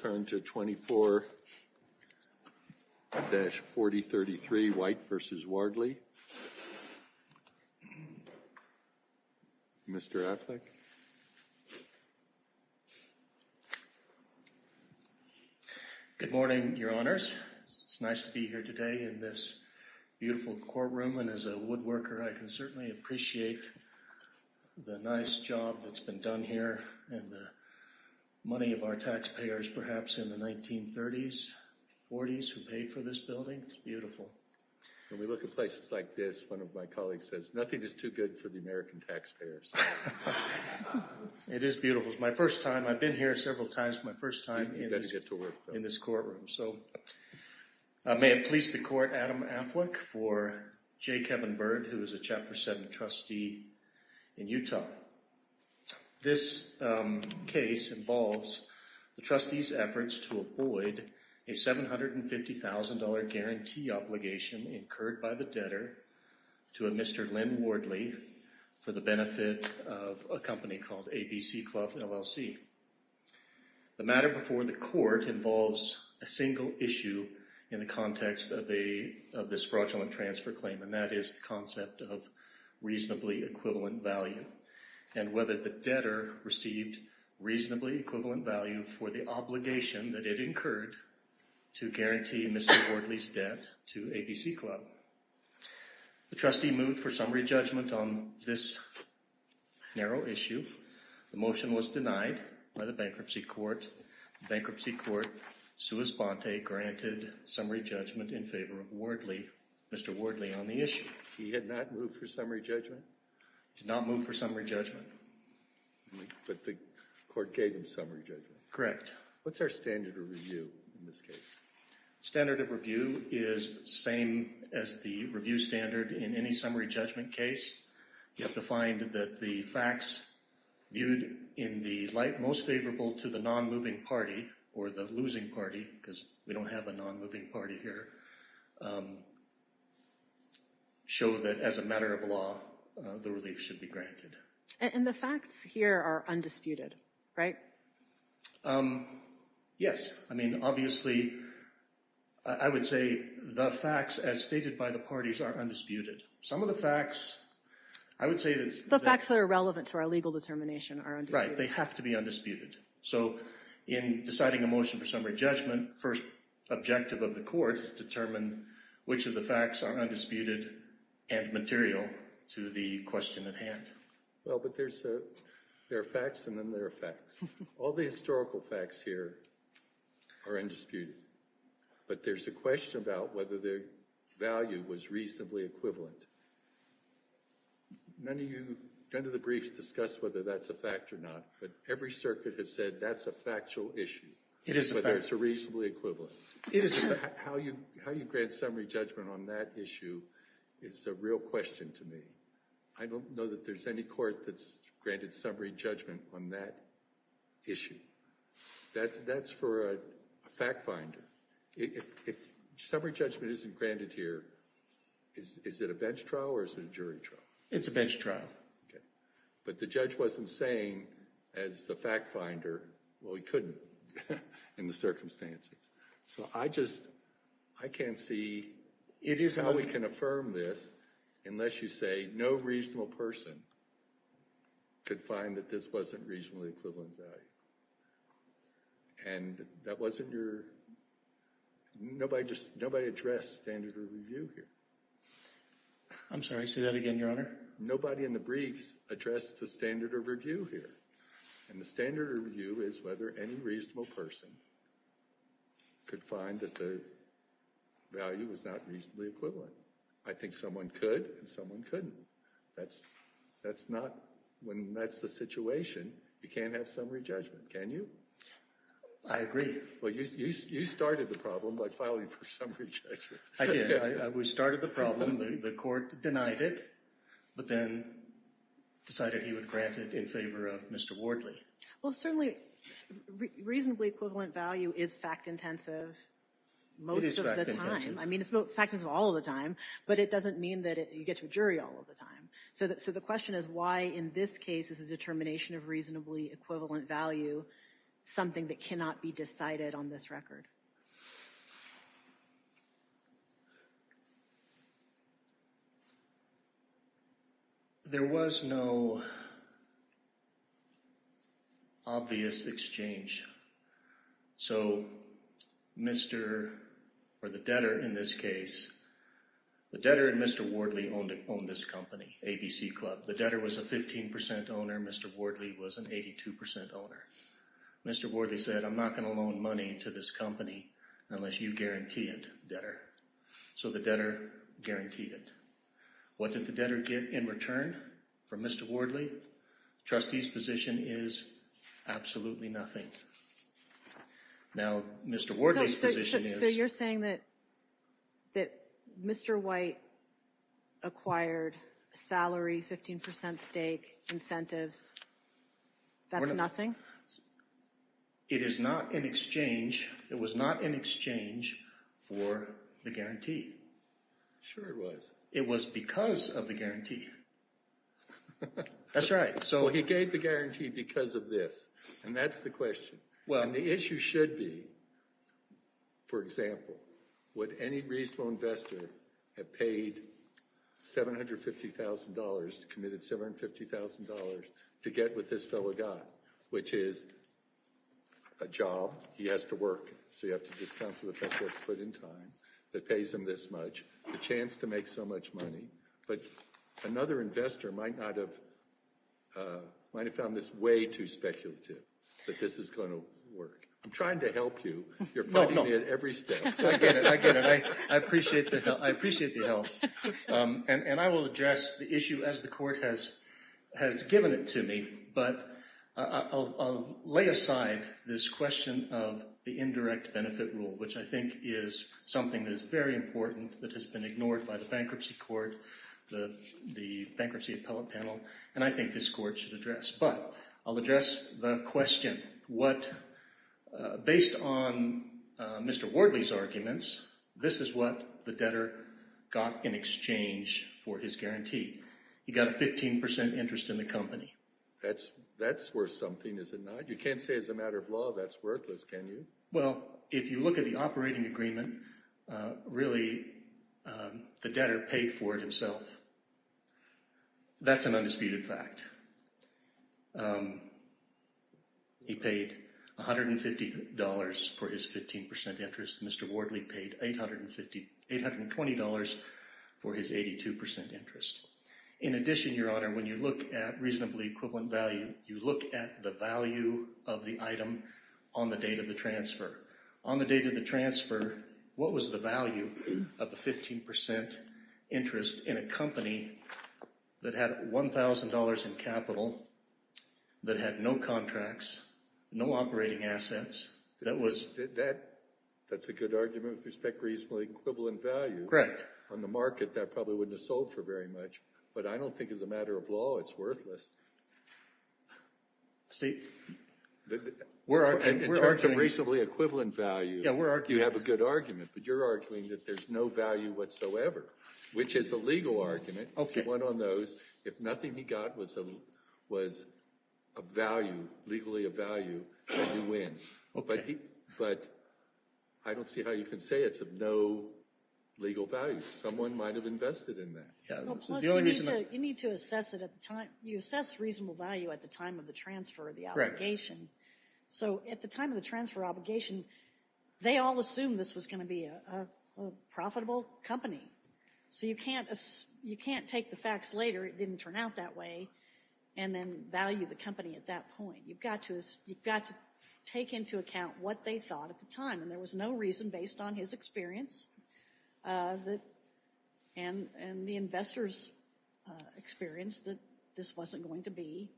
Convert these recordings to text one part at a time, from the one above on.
Good morning, your honors. It's nice to be here today in this beautiful courtroom and as a woodworker, I can certainly appreciate the nice job that's been done here and the taxpayers perhaps in the 1930s, 40s who paid for this building. It's beautiful. When we look at places like this, one of my colleagues says, nothing is too good for the American taxpayers. It is beautiful. It's my first time. I've been here several times. My first time in this courtroom. So may it please the court, Adam Affleck for J. Kevin Byrd, who is a Chapter 7 trustee in Utah. This case involves the trustee's efforts to avoid a $750,000 guarantee obligation incurred by the debtor to a Mr. Len Wardley for the benefit of a company called ABC Club, LLC. The matter before the court involves a single issue in the context of this fraudulent transfer claim and that is concept of reasonably equivalent value and whether the debtor received reasonably equivalent value for the obligation that it incurred to guarantee Mr. Wardley's debt to ABC Club. The trustee moved for summary judgment on this narrow issue. The motion was denied by the bankruptcy court. Bankruptcy court sua sponte granted summary judgment in favor of Wardley, Mr. Wardley on the issue. He had not moved for summary judgment? He did not move for summary judgment. But the court gave him summary judgment. Correct. What's our standard of review in this case? Standard of review is the same as the review standard in any summary judgment case. You have to find that the facts viewed in the light most favorable to the non-moving party or the losing party, because we don't have a non-moving party here, show that as a matter of law, the relief should be granted. And the facts here are undisputed, right? Yes. I mean, obviously, I would say the facts as stated by the parties are undisputed. Some of the facts, I would say that... The facts that are relevant to our legal determination are undisputed. Right, they have to be undisputed. So in deciding a motion for summary judgment, first objective of the court is to determine which of the facts are undisputed and material to the question at hand. Well, but there's a... There are facts and then there are facts. All the historical facts here are undisputed. But there's a question about whether their value was reasonably equivalent. None of you, none of the briefs discuss whether that's a fact or not, but every circuit has said that's a factual issue. It is a fact. Whether it's a reasonably equivalent. It is a fact. How you grant summary judgment on that issue is a real question to me. I don't know that there's any court that's granted summary judgment on that issue. That's for a fact finder. If summary judgment isn't granted here, is it a bench trial or is it a jury trial? It's a bench trial. Okay. But the judge wasn't saying as the fact finder, well, he couldn't in the circumstances. So I just, I can't see... It is how we can affirm this unless you say no reasonable person could find that this wasn't reasonably equivalent value. And that wasn't your... Nobody just, nobody addressed standard of review here. I'm sorry, say that again, Your Honor. Nobody in the briefs addressed the standard of review here. And the standard of review is whether any reasonable person could find that the value was not reasonably equivalent. I think someone could and someone couldn't. That's not, when that's the situation, you can't have summary judgment, can you? I agree. Well, you started the problem by filing for summary judgment. I did. We started the problem. The court denied it, but then decided he would grant it in favor of Mr. Wardley. Well, certainly reasonably equivalent value is fact intensive most of the time. It is fact intensive. I mean, it's fact intensive all of the time, but it doesn't mean that you get to a jury all of the time. So the question is why in this case is the determination of reasonably equivalent value something that cannot be decided on this record? There was no obvious exchange. So Mr. or the debtor in this case, the debtor and Mr. Wardley owned this company, ABC Club. The debtor was a 15% owner. Mr. Wardley was an 82% owner. Mr. Wardley said, I'm not going to loan money to this company unless you guarantee it, debtor. So the debtor guaranteed it. What did the debtor get in return for Mr. Wardley? Trustee's position is absolutely nothing. Now, Mr. Wardley's position is. So you're saying that Mr. White acquired salary, 15% stake incentives. That's nothing? It is not an exchange. It was not an exchange for the guarantee. Sure it was. It was because of the guarantee. That's right. So he gave the guarantee because of this. And that's the question. Well, the issue should be, for example, would any reasonable investor have paid $750,000 committed $750,000 to get with this fellow guy, which is a job he has to work. So you have to discount for the fact that it's put in time that pays him this much, the chance to make so much money. But another investor might not have, might have found this way too speculative that this is going to work. I'm trying to help you. You're fighting it every step. I get it. I get it. I appreciate the help. I appreciate the help. And I will address the issue as the court has given it to me. But I'll lay aside this question of the indirect benefit rule, which I think is something that is very important that has been ignored by the bankruptcy court, the bankruptcy appellate panel. And I think this court should address. But I'll address the question. What, based on Mr. Wardley's arguments, this is what the debtor got in exchange for his guarantee. He got a 15 percent interest in the company. That's worth something, is it not? You can't say as a matter of law that's worthless, can you? Well, if you look at the operating agreement, really the debtor paid for it himself. That's an undisputed fact. He paid $150 for his 15 percent interest. Mr. Wardley paid $820 for his 82 percent interest. In addition, Your Honor, when you look at reasonably equivalent value, you look at the value of the item on the date of the transfer. On the date of the transfer, what was the value of the 15 percent interest in a company that had $1,000 in capital, that had no contracts, no operating assets, that was... That's a good argument with respect to reasonably equivalent value. On the market, that probably wouldn't have sold for very much. But I don't think as a matter of law it's worthless. See, we're arguing... In terms of reasonably equivalent value, you have a good argument, but you're arguing that there's no value whatsoever, which is a legal argument. If he won on those, if nothing he got was a value, legally a value, then you win. Okay. But I don't see how you can say it's of no legal value. Someone might have invested in that. Plus, you need to assess it at the time. You assess reasonable value at the time of the transfer of the obligation. So at the time of the transfer obligation, they all assumed this was going to be a profitable company. So you can't take the facts later, it didn't turn out that way, and then value the company at that point. You've got to take into account what they thought at the time. And there was no reason, based on his experience and the investors' experience, that this wasn't going to be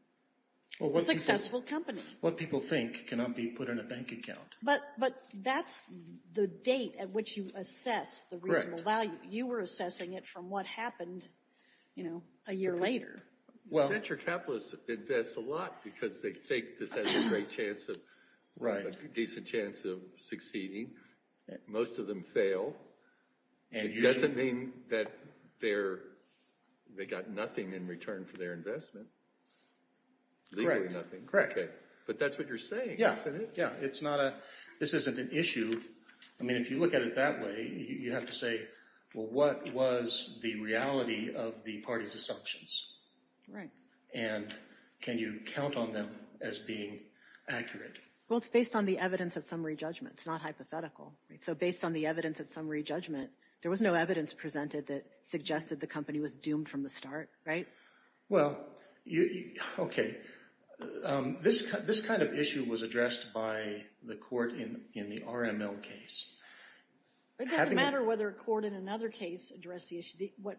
a successful company. What people think cannot be put in a bank account. But that's the date at which you assess the reasonable value. You were assessing it from what happened a year later. Venture capitalists invest a lot because they think this has a great chance of, a decent chance of succeeding. Most of them fail. It doesn't mean that they got nothing in return for their investment, legally nothing. Correct. But that's what you're saying, isn't it? Yeah, it's not a, this isn't an issue. I mean, if you look at it that way, you have to say, well, what was the reality of the party's assumptions? Right. And can you count on them as being accurate? Well, it's based on the evidence at summary judgment. It's not hypothetical. So based on the evidence at summary judgment, there was no evidence presented that suggested the company was doomed from the start, right? Well, okay. This kind of issue was addressed by the court in the RML case. It doesn't matter whether a court in another case addressed the issue. What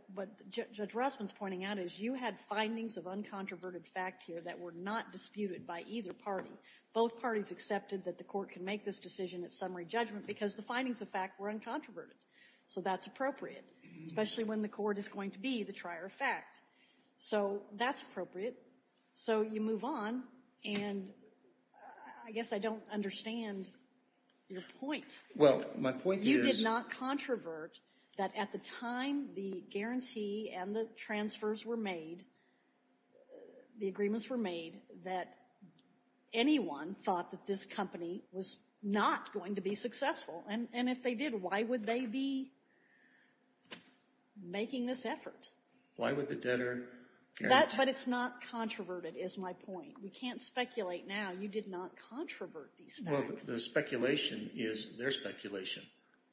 Judge Rossman's pointing out is you had findings of uncontroverted fact here that were not disputed by either party. Both parties accepted that the court can make this decision at summary judgment because the findings of fact were uncontroverted. So that's appropriate, especially when the court is going to be the trier of fact. So that's appropriate. So you move on. And I guess I don't understand your point. Well, my point is... You did not controvert that at the time the guarantee and the transfers were made, the agreements were made, that anyone thought that this company was not going to be successful. And if they did, why would they be making this effort? Why would the debtor guarantee? But it's not controverted, is my point. We can't speculate now. You did not controvert these facts. Well, the speculation is their speculation.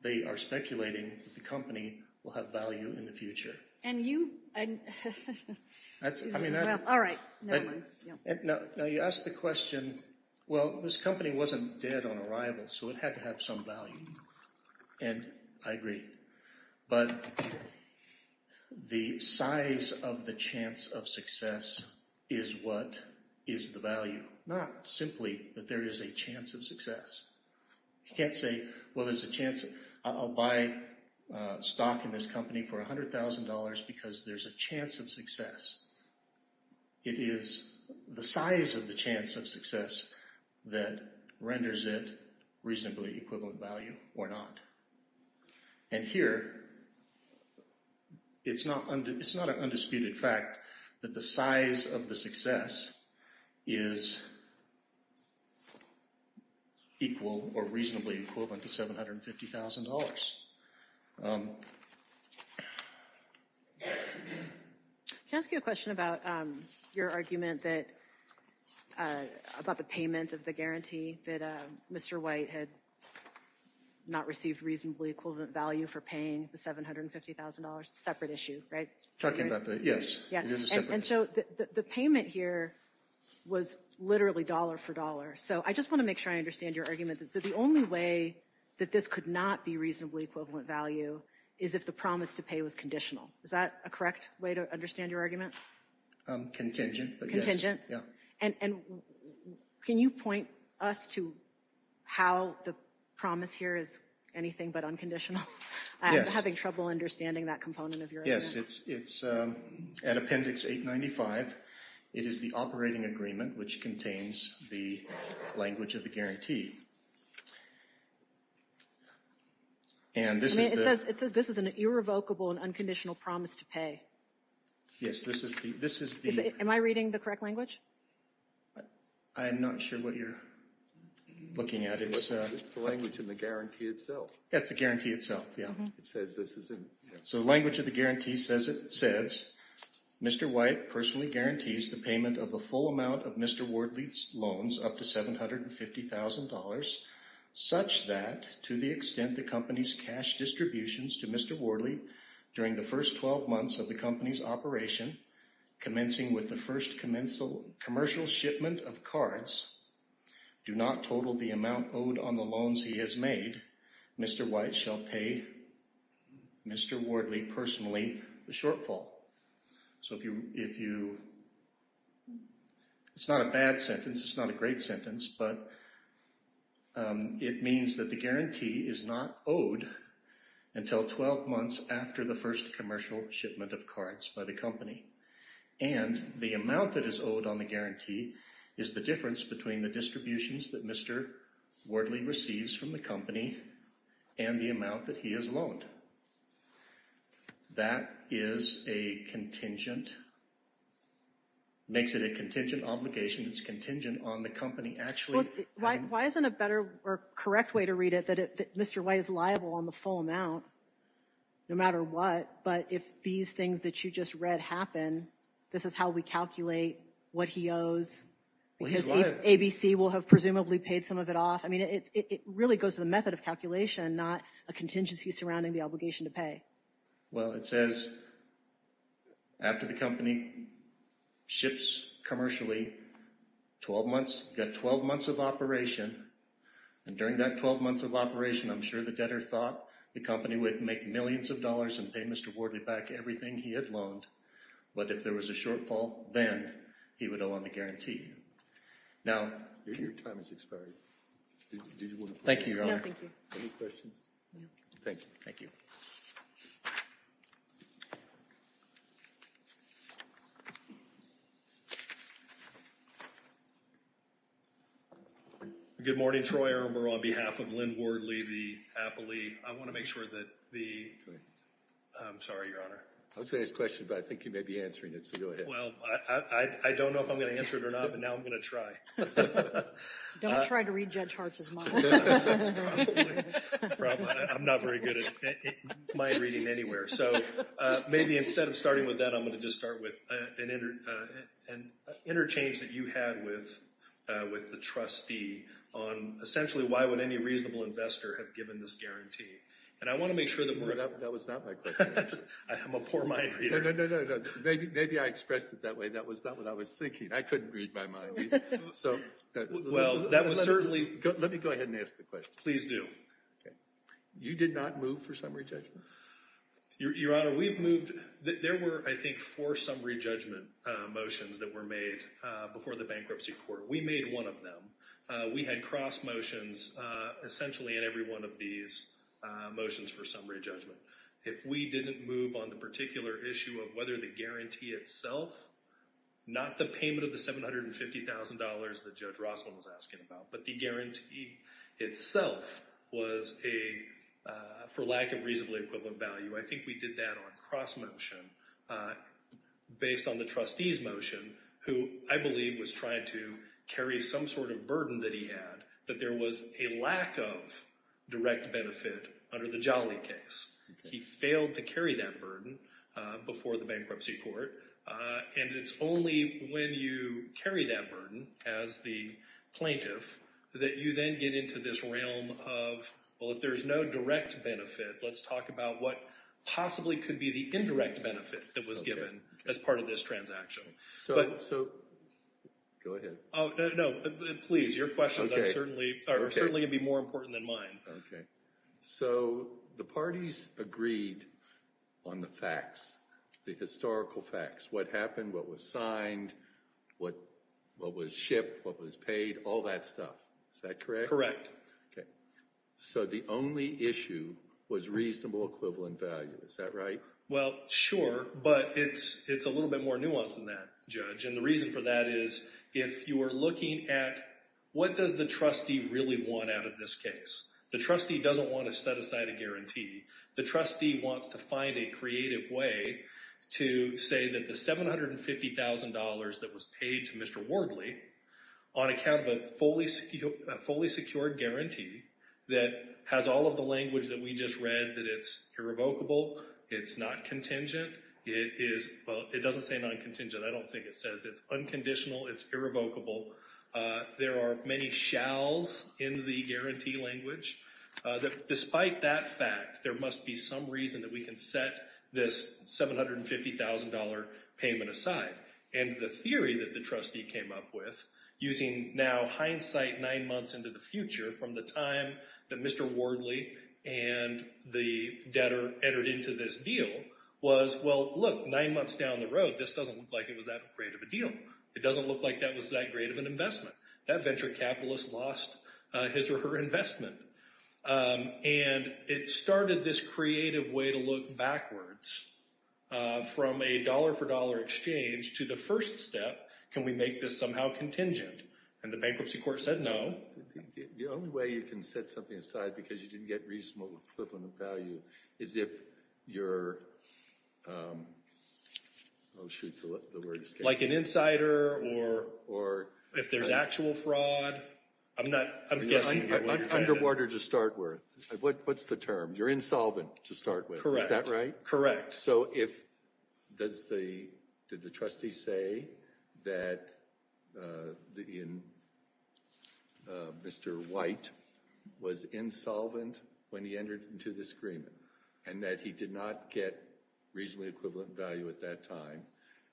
They are speculating that the company will have value in the future. And you... All right, never mind. Now, you asked the question, well, this company wasn't dead on arrival, so it had to have some value. And I agree. But the size of the chance of success is what is the value, not simply that there is a chance of success. You can't say, well, there's a chance I'll buy stock in this company for $100,000 because there's a chance of success. It is the size of the chance of success that renders it reasonably equivalent value or not. And here, it's not an undisputed fact that the size of the success is equal or reasonably equivalent to $750,000. Can I ask you a question about your argument that...about the payment of the guarantee that Mr. White had not received reasonably equivalent value for paying the $750,000? It's a separate issue, right? Talking about the...yes, it is a separate issue. And so the payment here was literally dollar for dollar. So I just want to make sure I understand your argument. So the only way that this could not be reasonably equivalent value is if the promise to pay was conditional. Is that a correct way to understand your argument? Contingent, but yes. Yeah. And can you point us to how the promise here is anything but unconditional? I'm having trouble understanding that component of your argument. Yes, it's at Appendix 895. It is the operating agreement which contains the language of the guarantee. It says this is an irrevocable and unconditional promise to pay. Yes, this is the... Am I reading the correct language? I'm not sure what you're looking at. It's the language in the guarantee itself. That's the guarantee itself, yeah. It says this is in... So the language of the guarantee says, Mr. White personally guarantees the payment of the full amount of Mr. Wardley's loans up to $750,000, such that to the extent the company's cash distributions to Mr. Wardley during the first 12 months of the company's operation, commencing with the first commercial shipment of cards, do not total the amount owed on the loans he has made, Mr. White shall pay Mr. Wardley personally the shortfall. So if you... It's not a bad sentence. It's not a great sentence. But it means that the guarantee is not owed until 12 months after the first commercial shipment of cards by the company. And the amount that is owed on the guarantee is the difference between the distributions that Mr. Wardley receives from the company and the amount that he has loaned. That is a contingent... makes it a contingent obligation. It's contingent on the company actually... Why isn't a better or correct way to read it that Mr. White is liable on the full amount no matter what, but if these things that you just read happen, this is how we calculate what he owes? Because ABC will have presumably paid some of it off. I mean, it really goes to the method of calculation, not a contingency surrounding the obligation to pay. Well, it says after the company ships commercially 12 months, got 12 months of operation. And during that 12 months of operation, I'm sure the debtor thought the company would make millions of dollars and pay Mr. Wardley back everything he had loaned. But if there was a shortfall, then he would owe on the guarantee. Now... Your time has expired. Thank you, Your Honor. No, thank you. Any questions? Thank you. Thank you. Good morning, Troy. I remember on behalf of Lynn Wardley, the appellee, I want to make sure that the... I'm sorry, Your Honor. I was going to ask a question, but I think you may be answering it. So go ahead. Well, I don't know if I'm going to answer it or not, but now I'm going to try. Don't try to read Judge Hartz's mind. That's probably the problem. I'm not very good at mind reading anywhere. So maybe instead of starting with that, I'm going to just start with an interchange that you had with the trustee on essentially why would any reasonable investor have given this guarantee? And I want to make sure that we're... That was not my question, actually. I'm a poor mind reader. No, no, no, no. Maybe I expressed it that way. That was not what I was thinking. I couldn't read my mind. Well, that was certainly... Let me go ahead and ask the question. Please do. You did not move for summary judgment? Your Honor, we've moved... There were, I think, four summary judgment motions that were made before the bankruptcy court. We made one of them. We had cross motions essentially in every one of these motions for summary judgment. If we didn't move on the particular issue of whether the guarantee itself, not the payment of the $750,000 that Judge Rossman was asking about, but the guarantee itself was for lack of reasonably equivalent value, I think we did that on cross motion based on the trustee's motion, who I believe was trying to carry some sort of burden that he had that there was a lack of direct benefit under the Jolly case. He failed to carry that burden before the bankruptcy court. And it's only when you carry that burden as the plaintiff that you then get into this realm of, well, if there's no direct benefit, let's talk about what possibly could be the indirect benefit that was given as part of this transaction. Go ahead. No, please. Your questions are certainly going to be more important than mine. Okay. So the parties agreed on the facts, the historical facts, what happened, what was signed, what was shipped, what was paid, all that stuff. Is that correct? Okay. So the only issue was reasonable equivalent value. Is that right? Well, sure. But it's a little bit more nuanced than that, Judge. And the reason for that is if you are looking at what does the trustee really want out of this case? The trustee doesn't want to set aside a guarantee. The trustee wants to find a creative way to say that the $750,000 that was paid to Mr. Wardley on account of a fully secured guarantee that has all of the language that we just read, that it's irrevocable, it's not contingent, it is, well, it doesn't say non-contingent. I don't think it says it's unconditional, it's irrevocable. There are many shalls in the guarantee language that despite that fact, there must be some reason that we can set this $750,000 payment aside. And the theory that the trustee came up with, using now hindsight nine months into the future from the time that Mr. Wardley and the debtor entered into this deal, was, well, look, nine months down the road, this doesn't look like it was that great of a deal. It doesn't look like that was that great of an investment. That venture capitalist lost his or her investment. And it started this creative way to look backwards from a dollar-for-dollar exchange to the first step, can we make this somehow contingent? And the bankruptcy court said no. The only way you can set something aside because you didn't get reasonable equivalent value is if you're, oh, shoot, the word escape. Like an insider or if there's actual fraud. I'm not, I'm guessing. Underwater to start with, what's the term? You're insolvent to start with, is that right? Correct. So if, did the trustee say that Mr. White was insolvent when he entered into this agreement and that he did not get reasonably equivalent value at that time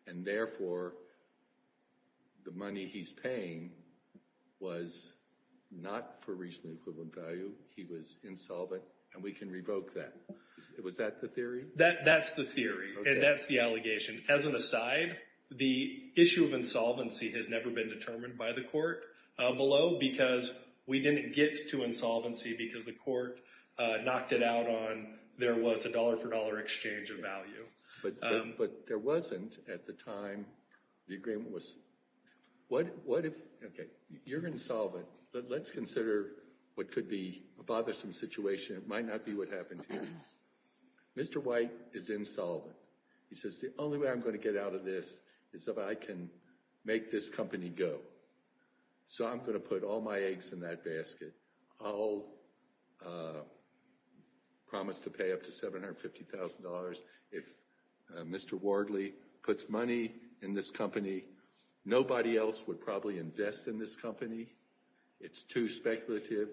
and therefore the money he's paying was not for reasonably equivalent value, he was insolvent and we can revoke that. Was that the theory? That's the theory and that's the allegation. As an aside, the issue of insolvency has never been determined by the court below because we didn't get to insolvency because the court knocked it out on there was a dollar-for-dollar exchange of value. But there wasn't at the time the agreement was, what if, okay, you're insolvent, let's consider what could be a bothersome situation. It might not be what happened here. Mr. White is insolvent. He says the only way I'm going to get out of this is if I can make this company go. So I'm going to put all my eggs in that basket. I'll promise to pay up to $750,000 if Mr. Wardley puts money in this company. Nobody else would probably invest in this company. It's too speculative.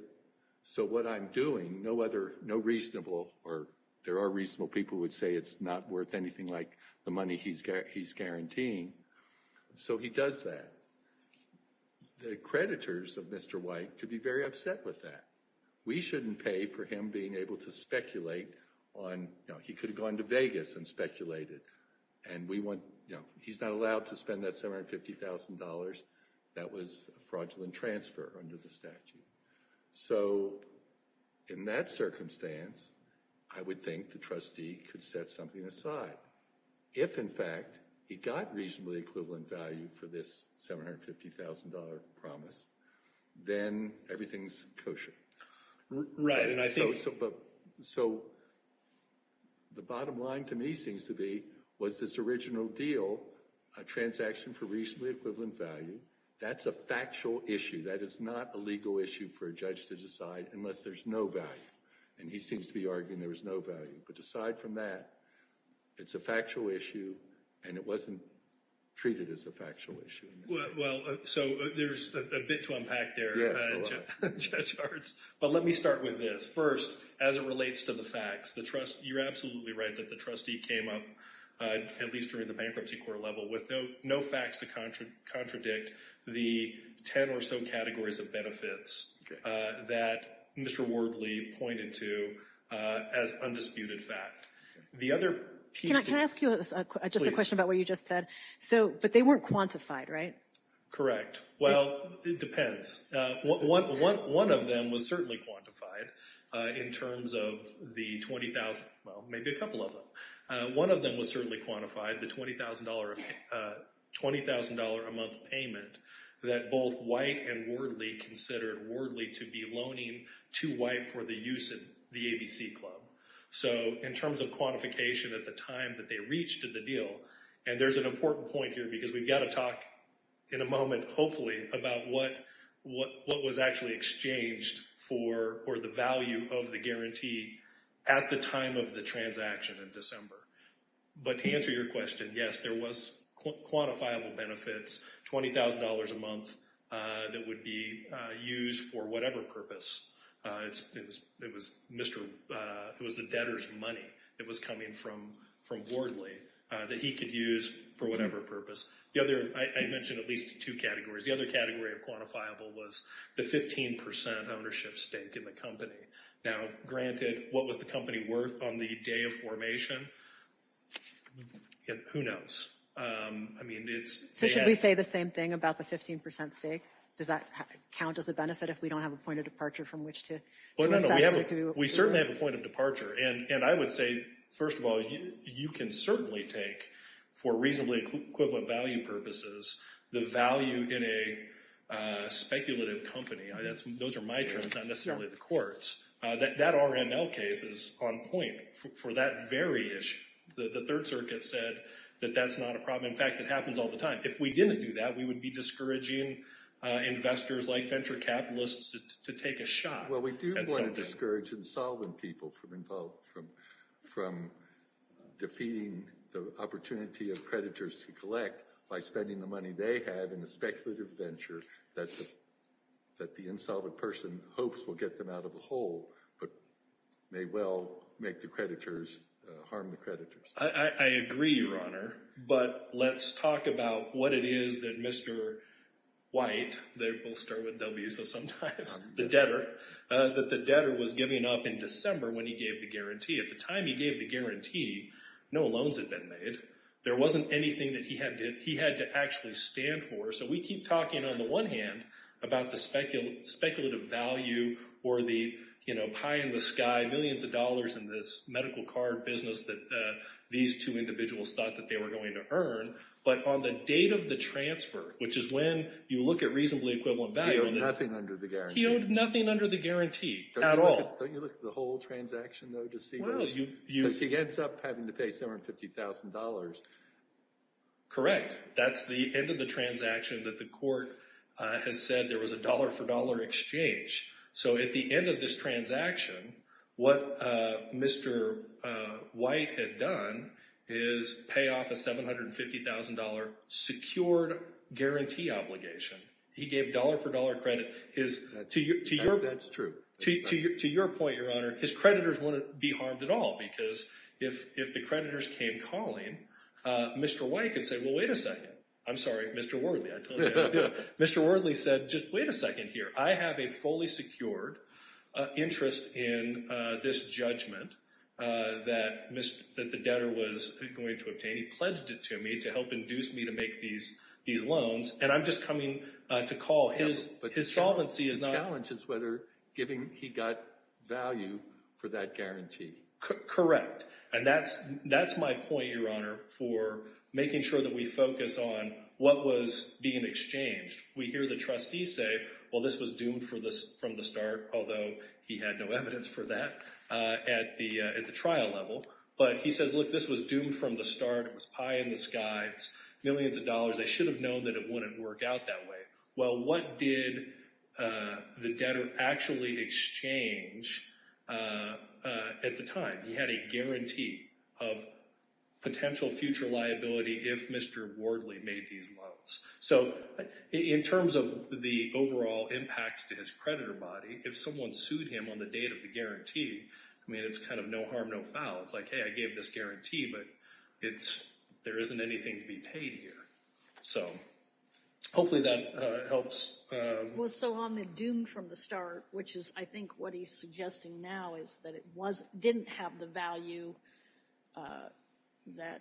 So what I'm doing, no other, no reasonable, or there are reasonable people would say it's not worth anything like the money he's guaranteeing. So he does that. The creditors of Mr. White could be very upset with that. We shouldn't pay for him being able to speculate on, he could have gone to Vegas and speculated. And he's not allowed to spend that $750,000. That was a fraudulent transfer under the statute. So in that circumstance, I would think the trustee could set something aside. If in fact he got reasonably equivalent value for this $750,000 promise, then everything's kosher. Right. So the bottom line to me seems to be, was this original deal a transaction for reasonably equivalent value? That's a factual issue. That is not a legal issue for a judge to decide unless there's no value. And he seems to be arguing there was no value. But aside from that, it's a factual issue and it wasn't treated as a factual issue. Well, so there's a bit to unpack there, Judge Hartz. But let me start with this. First, as it relates to the facts, you're absolutely right that the trustee came up, at least during the bankruptcy court level, with no facts to contradict the 10 or so categories of benefits that Mr. Wardley pointed to as undisputed fact. Can I ask you just a question about what you just said? But they weren't quantified, right? Correct. Well, it depends. One of them was certainly quantified in terms of the 20,000, well, maybe a couple of them. One of them was certainly quantified, the $20,000 a month payment that both White and Wardley considered Wardley to be loaning to White for the use of the ABC Club. So in terms of quantification at the time that they reached the deal, and there's an important point here because we've got to talk in a moment, hopefully, about what was actually exchanged for the value of the guarantee at the time of the transaction in December. But to answer your question, yes, there was quantifiable benefits, $20,000 a month that would be used for whatever purpose. It was the debtor's money that was coming from Wardley that he could use for whatever purpose. The other, I mentioned at least two categories. The other category of quantifiable was the 15% ownership stake in the company. Now, granted, what was the company worth on the day of formation? Who knows? I mean, it's- So should we say the same thing about the 15% stake? Does that count as a benefit if we don't have a point of departure from which to assess what it could be worth? We certainly have a point of departure. And I would say, first of all, you can certainly take, for reasonably equivalent value purposes, the value in a speculative company. Those are my terms, not necessarily the court's. That RML case is on point for that very issue. The Third Circuit said that that's not a problem. In fact, it happens all the time. If we didn't do that, we would be discouraging investors like venture capitalists to take a shot at something. Well, we do want to discourage insolvent people from defeating the opportunity of creditors to collect by spending the money they have in a speculative venture that the insolvent person hopes will get them out of the hole, but may well make the creditors, harm the creditors. I agree, Your Honor. But let's talk about what it is that Mr. White, they both start with W, so sometimes, the debtor, that the debtor was giving up in December when he gave the guarantee. At the time he gave the guarantee, no loans had been made. There wasn't anything that he had to actually stand for. So we keep talking, on the one hand, about the speculative value or the pie in the sky, millions of dollars in this medical card business that these two individuals thought that they were going to earn. But on the date of the transfer, which is when you look at reasonably equivalent value. He owed nothing under the guarantee. He owed nothing under the guarantee at all. Don't you look at the whole transaction, though, to see what it is? Because he ends up having to pay $750,000. Correct. That's the end of the transaction that the court has said there was a dollar-for-dollar exchange. So at the end of this transaction, what Mr. White had done is pay off a $750,000 secured guarantee obligation. He gave dollar-for-dollar credit. That's true. To your point, Your Honor, his creditors wouldn't be harmed at all because if the creditors came calling, Mr. White could say, well, wait a second. I'm sorry, Mr. Wortley. I told you how to do it. Mr. Wortley said, just wait a second here. I have a fully secured interest in this judgment that the debtor was going to obtain. He pledged it to me to help induce me to make these loans. And I'm just coming to call. Yeah, but the challenge is whether he got value for that guarantee. Correct. And that's my point, Your Honor, for making sure that we focus on what was being exchanged. We hear the trustees say, well, this was doomed from the start, although he had no evidence for that at the trial level. But he says, look, this was doomed from the start. It was pie in the sky. It's millions of dollars. They should have known that it wouldn't work out that way. Well, what did the debtor actually exchange at the time? He had a guarantee of potential future liability if Mr. Wortley made these loans. So in terms of the overall impact to his creditor body, if someone sued him on the date of the guarantee, I mean, it's kind of no harm, no foul. It's like, hey, I gave this guarantee, but there isn't anything to be paid here. So hopefully that helps. Well, so on the doomed from the start, which is, I think, what he's suggesting now is that it didn't have the value that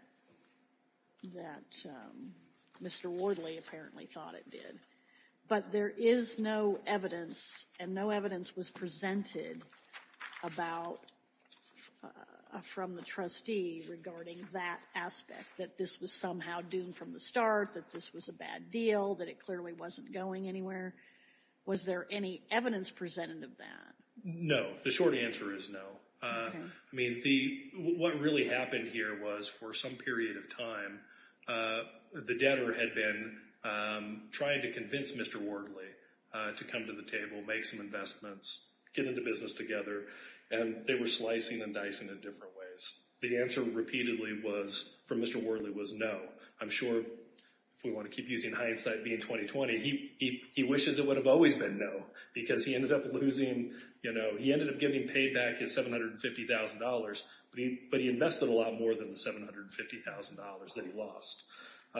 Mr. Wortley apparently thought it did. But there is no evidence, and no evidence was presented from the trustee regarding that aspect, that this was somehow doomed from the start, that this was a bad deal, that it clearly wasn't going anywhere. Was there any evidence presented of that? No, the short answer is no. I mean, what really happened here was for some period of time, the debtor had been trying to convince Mr. Wortley to come to the table, make some investments, get into business together, and they were slicing and dicing in different ways. The answer repeatedly from Mr. Wortley was no. I'm sure, if we want to keep using hindsight, being 2020, he wishes it would have always been no because he ended up losing, he ended up getting paid back his $750,000, but he invested a lot more than the $750,000 that he lost.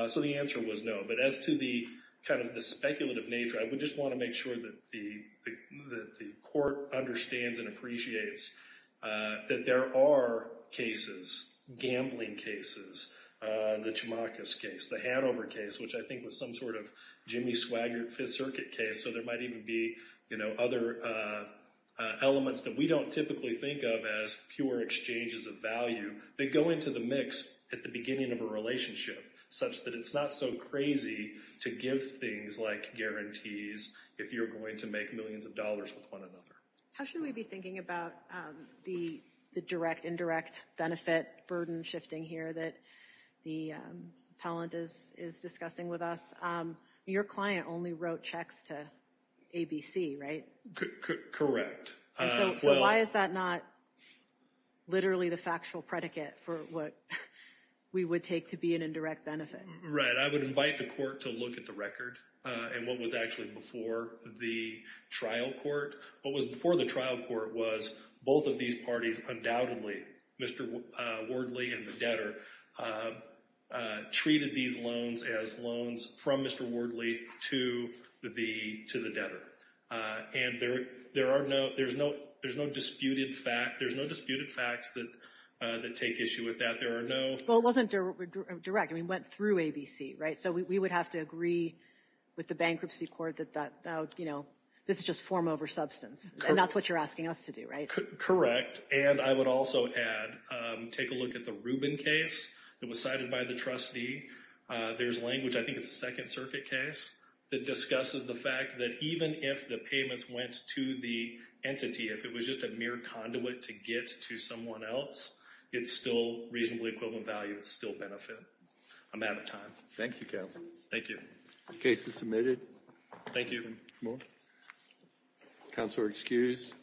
So the answer was no. But as to the kind of the speculative nature, I would just want to make sure that the court understands and appreciates that there are cases, gambling cases, the Chamakos case, the Hanover case, which I think was some sort of Jimmy Swaggart Fifth Circuit case, so there might even be other elements that we don't typically think of as pure exchanges of value. They go into the mix at the beginning of a relationship such that it's not so crazy to give things like guarantees if you're going to make millions of dollars with one another. How should we be thinking about the direct, indirect benefit burden shifting here that the appellant is discussing with us? Your client only wrote checks to ABC, right? Correct. So why is that not literally the factual predicate for what we would take to be an indirect benefit? Right, I would invite the court to look at the record and what was actually before the trial court, what was before the trial court was both of these parties undoubtedly, Mr. Wardley and the debtor, treated these loans as loans from Mr. Wardley to the debtor. And there are no, there's no disputed fact, there's no disputed facts that take issue with that. There are no- Well, it wasn't direct. I mean, it went through ABC, right? So we would have to agree with the bankruptcy court that that, you know, this is just form over substance. And that's what you're asking us to do, right? Correct, and I would also add, take a look at the Rubin case that was cited by the trustee. There's language, I think it's a Second Circuit case that discusses the fact that even if the payments went to the entity, if it was just a mere conduit to get to someone else, it's still reasonably equivalent value, it's still benefit. I'm out of time. Thank you, counsel. Thank you. Case is submitted. Thank you. Counselor, excused.